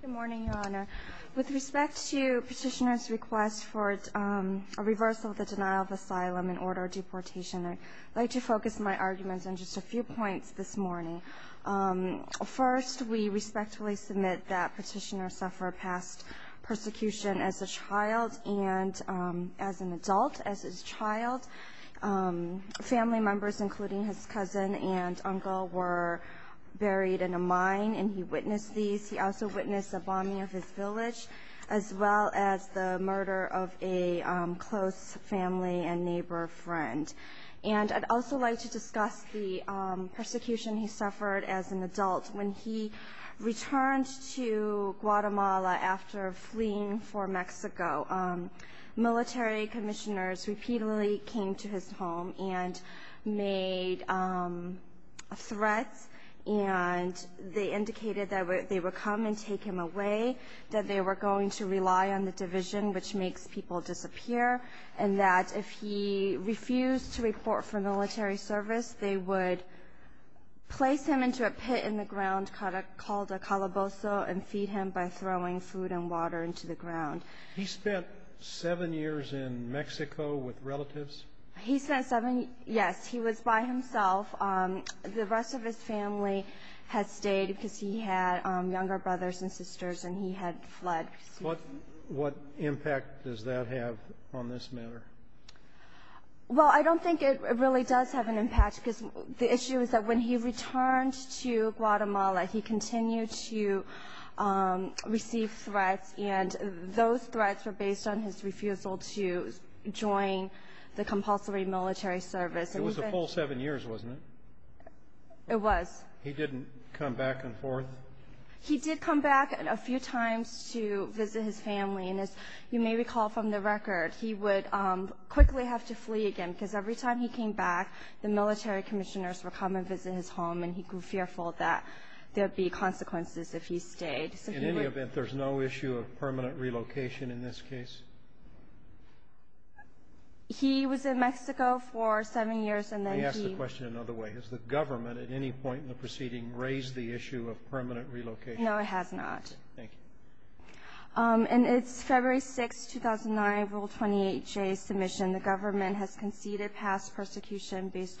Good morning, Your Honor. With respect to Petitioner's request for a reversal of the denial of asylum and order of deportation, I'd like to focus my arguments on just a few points this morning. First, we respectfully submit that Petitioner suffered past persecution as a child and as an adult. As a child, family members, including his cousin and uncle, were buried in a mine, and he witnessed these. He also witnessed the bombing of his village, as well as the murder of a close family and neighbor friend. And I'd also like to discuss the persecution he suffered as an adult. When he returned to Guatemala after fleeing for Mexico, military commissioners repeatedly came to his home and indicated that they would come and take him away, that they were going to rely on the division, which makes people disappear, and that if he refused to report for military service, they would place him into a pit in the ground called a calabozo and feed him by throwing food and water into the ground. He spent seven years in Mexico with relatives? He spent seven years, yes. He was by himself. The rest of his family had stayed because he had younger brothers and sisters, and he had fled. What impact does that have on this matter? Well, I don't think it really does have an impact, because the issue is that when he returned to Guatemala, he continued to receive threats, and those threats were based on his refusal to join the compulsory military service. It was a full seven years, wasn't it? It was. He didn't come back and forth? He did come back a few times to visit his family, and as you may recall from the record, he would quickly have to flee again, because every time he came back, the military commissioners would come and visit his home, and he grew fearful that there would be consequences if he stayed. In any event, there's no issue of permanent relocation in this case? He was in Mexico for seven years, and then he... Let me ask the question another way. Has the government at any point in the proceeding raised the issue of permanent relocation? No, it has not. Thank you. And it's February 6, 2009, Rule 28J submission. The government has conceded past persecution based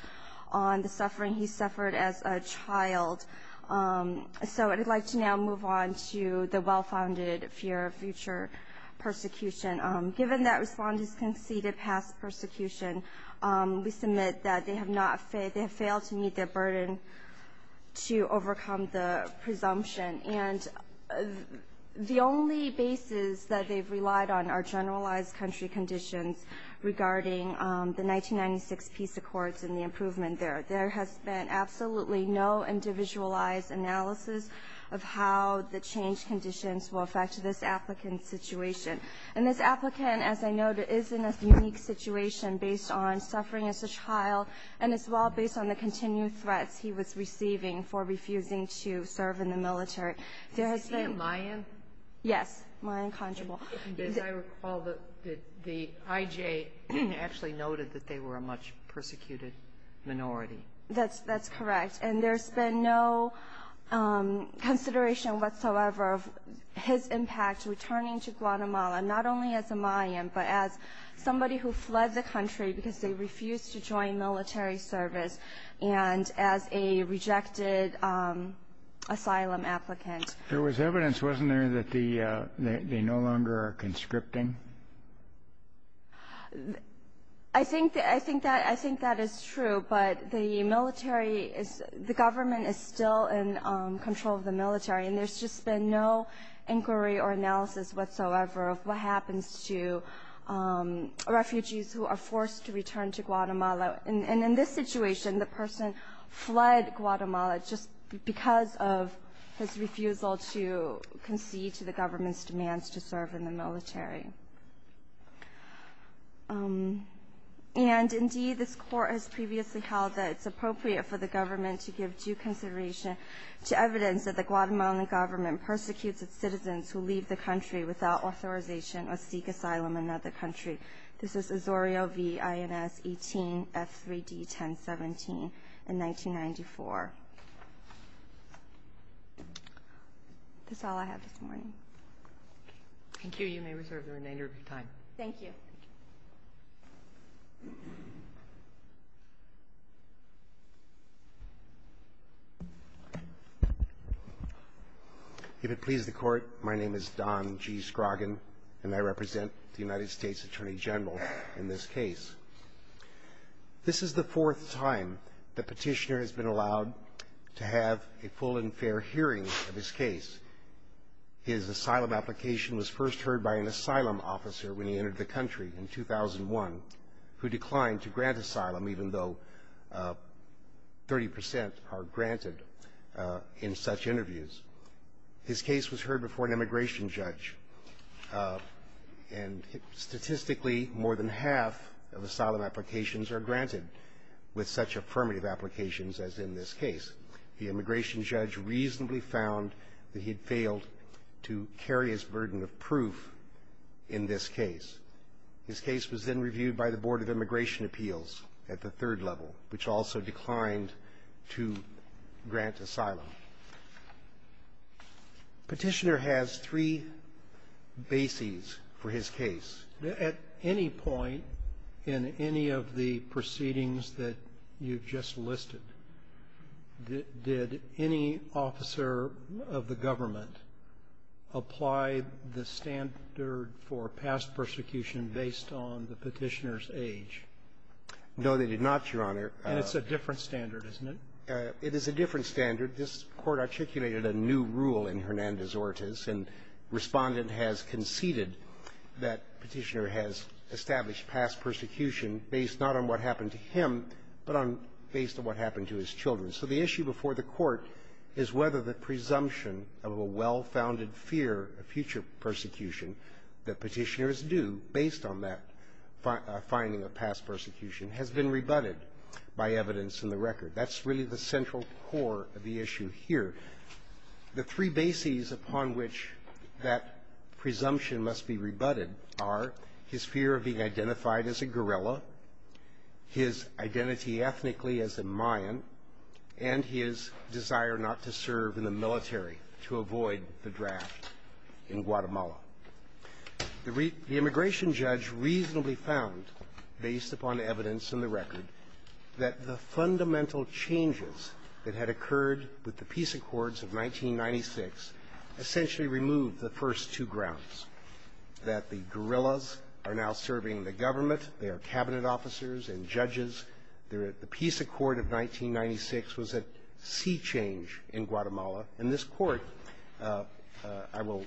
on the suffering he suffered as a child. So I'd like to now move on to the well-founded fear of future persecution. Given that Respondents conceded past persecution, we submit that they have failed to meet their burden to overcome the presumption, and the only basis that they've relied on are generalized country conditions regarding the 1996 peace accords and the improvement there. There has been absolutely no individualized analysis of how the change conditions will affect this applicant's situation. And this applicant, as I noted, is in a unique situation based on suffering as a child, and as well based on the continued threats he was receiving for refusing to serve in the military. Is he a Mayan? Yes, Mayan conjugal. As I recall, the IJ actually noted that they were a much persecuted minority. That's correct. And there's been no consideration whatsoever of his impact returning to Guatemala, not only as a Mayan, but as somebody who fled the country because they refused to join military service, and as a rejected asylum applicant. There was evidence, wasn't there, that they no longer are conscripting? I think that is true, but the government is still in control of the military, and there's just been no inquiry or analysis whatsoever of what happens to refugees who are forced to return to Guatemala. And in this situation, the person fled Guatemala just because of his refusal to concede to the government's demands to serve in the military. And indeed, this court has previously held that it's appropriate for the government to give due consideration to evidence that the Guatemalan government persecutes its citizens who leave the country without authorization or seek asylum in another country. This is Azorio v. Ins18 F3D 1017 in 1994. That's all I have this morning. Thank you. You may reserve the remainder of your time. Thank you. If it pleases the Court, my name is Don G. Scroggin, and I represent the United States Attorney General in this case. This is the fourth time the petitioner has been allowed to have a full and fair hearing of his case. His asylum application was first heard by an asylum officer when he entered the country in 2001, who declined to grant asylum even though 30 percent are granted in such interviews. His case was heard before an immigration judge, and statistically, more than half of asylum applications are granted with such affirmative applications as in this case. The immigration judge reasonably found that he had failed to carry his burden of proof in this case. His case was then reviewed by the Board of Immigration Appeals at the third level, which also declined to grant asylum. Petitioner has three bases for his case. At any point in any of the proceedings that you've just listed, did any officer of the government apply the standard for past persecution based on the petitioner's age? No, they did not, Your Honor. And it's a different standard, isn't it? It is a different standard. This Court articulated a new rule in Hernandez-Ortiz, and Respondent has conceded that Petitioner has established past persecution based not on what happened to him, but on based on what happened to his children. So the issue before the Court is whether the presumption of a well-founded fear of future persecution that Petitioner is due based on that finding of past persecution has been rebutted by evidence in the record. That's really the central core of the issue here. The three bases upon which that presumption must be rebutted are his fear of being identified as a guerrilla, his identity ethnically as a Mayan, and his desire not to serve in the military to avoid the draft in Guatemala. The immigration judge reasonably found, based upon evidence in the record, that the fundamental changes that had occurred with the Peace Accords of 1996 essentially removed the first two grounds, that the guerrillas are now serving the government, they are Cabinet officers and judges. The Peace Accord of 1996 was a sea change in Guatemala. And this Court, I will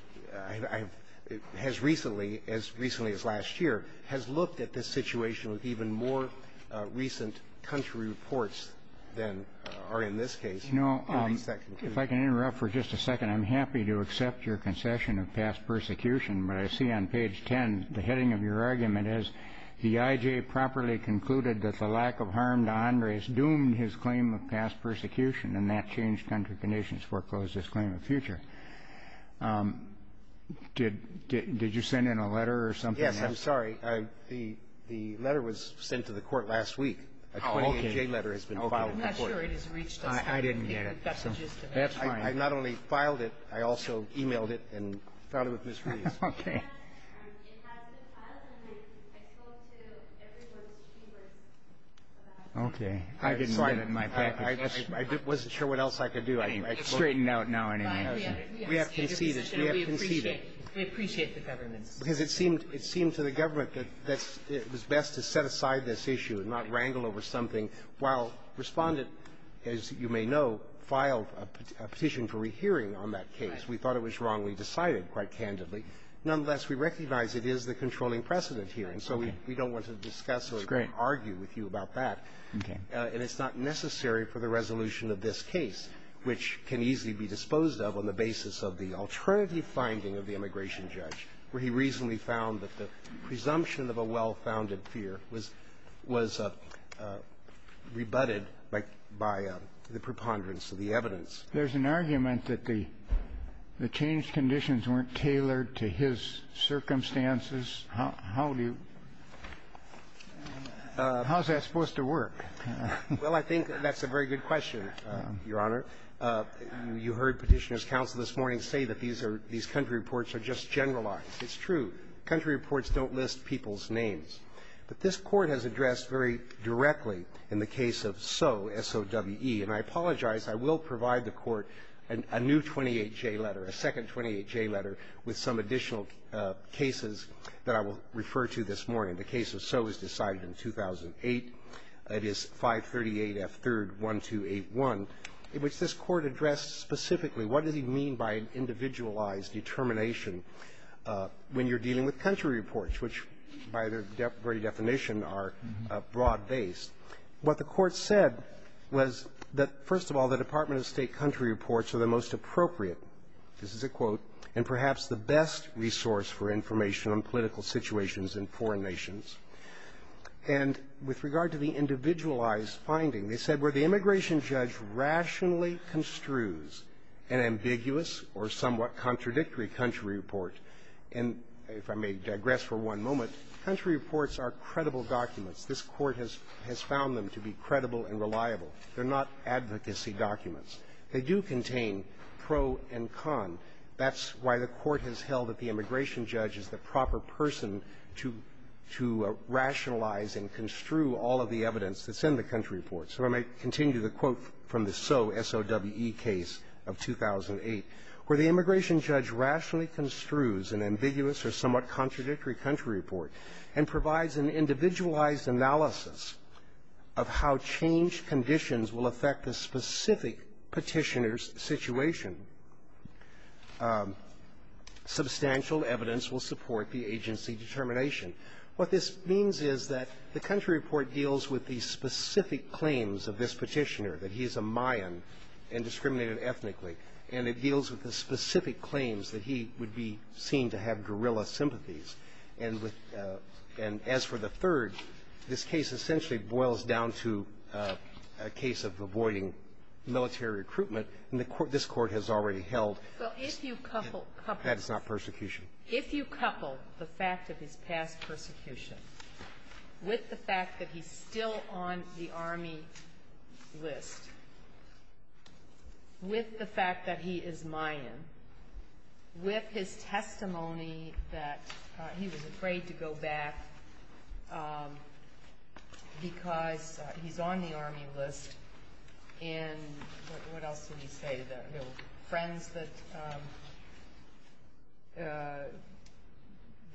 – has recently, as recently as last year, has looked at this situation with even more recent country reports than are in this case. If I can interrupt for just a second, I'm happy to accept your concession of past persecution, but I see on page 10 the heading of your argument is, the IJ properly concluded that the lack of harm to Andres doomed his claim of past persecution, and that changed country conditions foreclosed his claim of future. Did you send in a letter or something? Yes, I'm sorry. The letter was sent to the Court last week. Oh, okay. I'm not sure it has reached us. I didn't get it. That's fine. I not only filed it, I also emailed it and filed it with Ms. Ruiz. Okay. Okay. I didn't get it in my package. I wasn't sure what else I could do. Straightened out now, anyway. We have conceded. We have conceded. We appreciate the government's decision. Because it seemed to the government that it was best to set aside this issue and not wrangle over something while Respondent, as you may know, filed a petition for rehearing on that case. Right. We thought it was wrongly decided, quite candidly. Nonetheless, we recognize it is the controlling precedent here, and so we don't want to discuss or argue with you about that. Okay. And it's not necessary for the resolution of this case, which can easily be disposed of on the basis of the alternative finding of the immigration judge, where he reasonably found that the presumption of a well-founded fear was rebutted by the preponderance of the evidence. There's an argument that the changed conditions weren't tailored to his circumstances. How do you – how is that supposed to work? Well, I think that's a very good question, Your Honor. You heard Petitioner's counsel this morning say that these are – these country reports are just generalized. It's true. Country reports don't list people's names. But this Court has addressed very directly in the case of Soe, S-O-W-E. And I apologize. I will provide the Court a new 28J letter, a second 28J letter, with some additional cases that I will refer to this morning. The case of Soe was decided in 2008. It is 538F3-1281, in which this Court addressed specifically what does he mean by an individualized determination when you're dealing with country reports, which, by their very definition, are broad-based. What the Court said was that, first of all, the Department of State country reports are the most appropriate – this is a quote – and perhaps the best resource for information on political situations in foreign nations. And with regard to the individualized finding, they said, where the immigration judge rationally construes an ambiguous or somewhat contradictory country report – and if I may digress for one moment, country reports are credible documents. This Court has found them to be credible and reliable. They're not advocacy documents. They do contain pro and con. That's why the Court has held that the immigration judge is the proper person to rationalize and construe all of the evidence that's in the country report. So I may continue the quote from the Soe, S-O-W-E, case of 2008, where the immigration judge rationally construes an ambiguous or somewhat contradictory country report and provides an individualized analysis of how change conditions will affect the specific petitioner's situation. Substantial evidence will support the agency determination. What this means is that the country report deals with the specific claims of this petitioner, that he is a Mayan and discriminated ethnically, and it deals with the specific claims that he would be seen to have guerrilla sympathies. And as for the third, this case essentially boils down to a case of avoiding military recruitment, and this Court has already held that it's not persecution. If you couple the fact of his past persecution with the fact that he's still on the Army list, with the fact that he is Mayan, with his testimony that he was afraid to go back because he's on the Army list, and what else did he say? Friends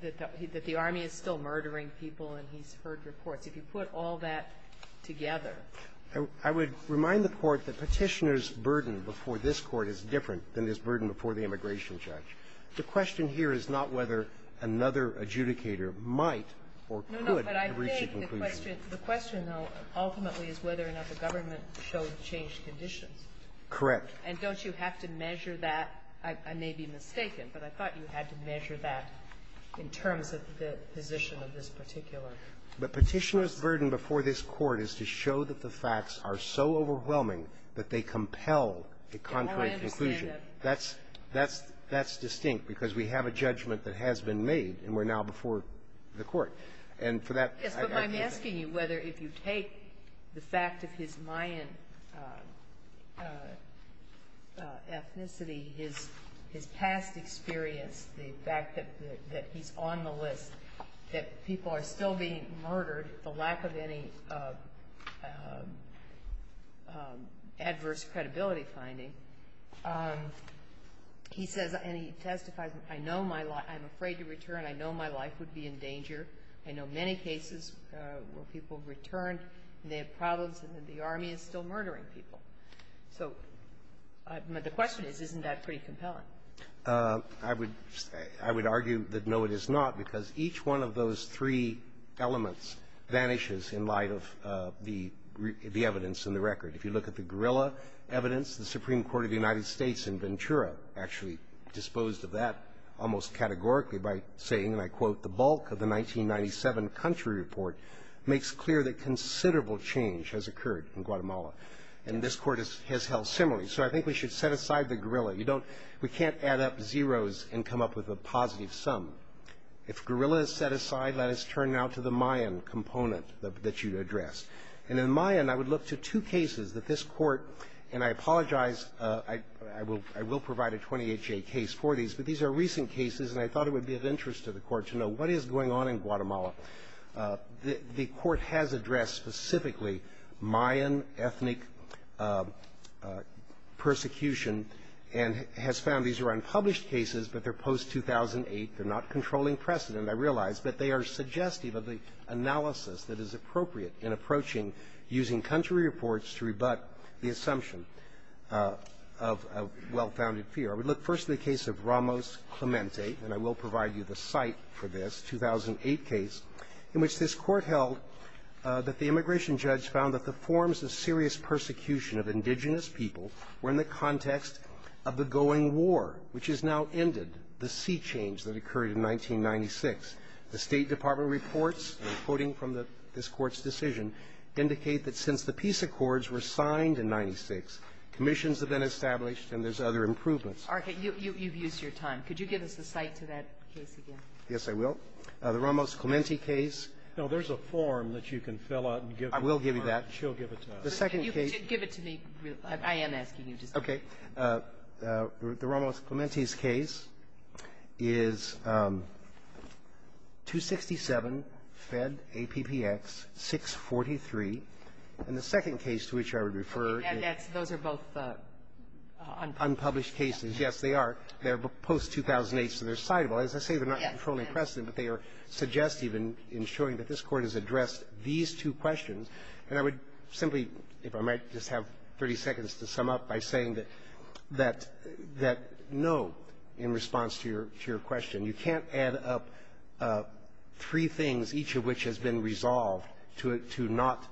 that the Army is still murdering people, and he's heard reports. If you put all that together. I would remind the Court that petitioner's burden before this Court is different than his burden before the immigration judge. The question here is not whether another adjudicator might or could reach a conclusion. No, no. But I think the question, though, ultimately is whether or not the government showed changed conditions. Correct. And don't you have to measure that? I may be mistaken, but I thought you had to measure that in terms of the position of this particular person. But petitioner's burden before this Court is to show that the facts are so overwhelming that they compel a contrary conclusion. And I understand that. That's distinct because we have a judgment that has been made, and we're now before the Court. And for that, I think that. Yes, but I'm asking you whether if you take the fact of his Mayan ethnicity, his past experience, the fact that he's on the list, that people are still being murdered, the lack of any adverse credibility finding, he says, and he testifies, I know my life – I'm afraid to return. I know my life would be in danger. I know many cases where people returned and they had problems, and the army is still murdering people. So the question is, isn't that pretty compelling? I would argue that no, it is not, because each one of those three elements vanishes in light of the evidence in the record. If you look at the guerrilla evidence, the Supreme Court of the United States in Ventura actually disposed of that almost categorically by saying, and I quote, the bulk of the 1997 country report makes clear that considerable change has occurred in Guatemala. And this Court has held similarly. So I think we should set aside the guerrilla. You don't – we can't add up zeros and come up with a positive sum. If guerrilla is set aside, let us turn now to the Mayan component that you addressed. And in Mayan, I would look to two cases that this Court – and I apologize, I will provide a 28-J case for these, but these are recent cases, and I thought it would be of interest to the Court to know what is going on in Guatemala. The Court has addressed specifically Mayan ethnic persecution and has found these are unpublished cases, but they're post-2008. They're not controlling precedent, I realize, but they are suggestive of the analysis that is appropriate in approaching using country reports to rebut the assumption of a well-founded fear. I would look first to the case of Ramos-Clemente, and I will provide you the site for this 2008 case, in which this Court held that the immigration judge found that the forms of serious persecution of indigenous people were in the context of the going war, which has now ended, the sea change that occurred in 1996. The State Department reports, and I'm quoting from this Court's decision, indicate that since the peace accords were signed in 96, commissions have been established and there's other improvements. Sotomayor, you've used your time. Could you give us the site to that case again? Yes, I will. The Ramos-Clemente case. No, there's a form that you can fill out and give her. I will give you that. She'll give it to us. The second case. Give it to me. I am asking you to. Okay. The Ramos-Clemente's case is 267 Fed APPX 643, and the second case to which I would refer is unpublished cases. Yes, they are. They're post-2008, so they're citable. As I say, they're not controlling precedent, but they are suggestive in showing that this Court has addressed these two questions. And I would simply, if I might, just have 30 seconds to sum up by saying that no in response to your question. You can't add up three things, each of which has been resolved to not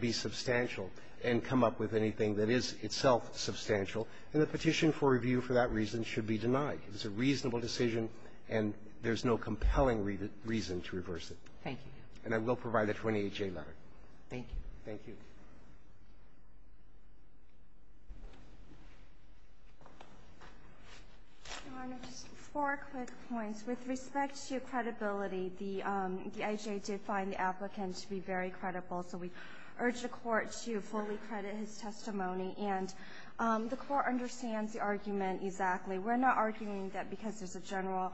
be substantial and come up with anything that is itself substantial. And the petition for review for that reason should be denied. It's a reasonable decision, and there's no compelling reason to reverse it. Thank you. And I will provide a 28-J letter. Thank you. Thank you. Your Honor, just four quick points. With respect to credibility, the IJA did find the applicant to be very credible, so we urge the Court to fully credit his testimony. And the Court understands the argument exactly. We're not arguing that because there's a general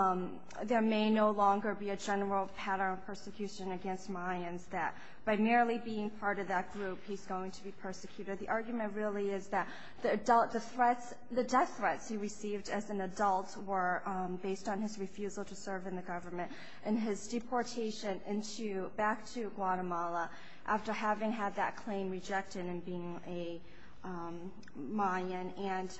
– there may no longer be a general pattern of persecution against Mayans, that by merely being part of that group, he's going to be persecuted. The argument really is that the death threats he received as an adult were based on his refusal to serve in the government and his deportation into – back to Guatemala after having had that claim rejected and being a Mayan. And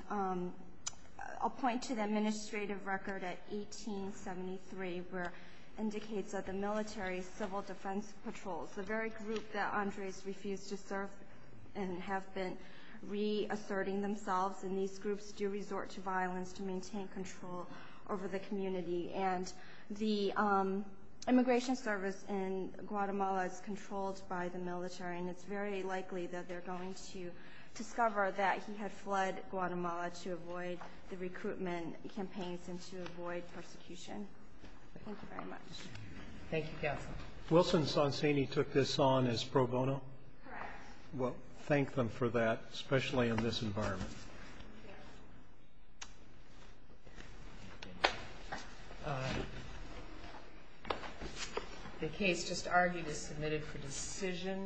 I'll point to the administrative record at 1873, where it indicates that the military civil defense patrols, the very group that Andres refused to serve and have been reasserting themselves, and these groups do resort to violence to maintain control over the community. And the immigration service in Guatemala is controlled by the military, and it's very likely that they're going to discover that he had fled Guatemala to avoid the recruitment campaigns and to avoid persecution. Thank you very much. Thank you, Counsel. Wilson Sonsini took this on as pro bono? Correct. Well, thank them for that, especially in this environment. The case just argued is submitted for decision.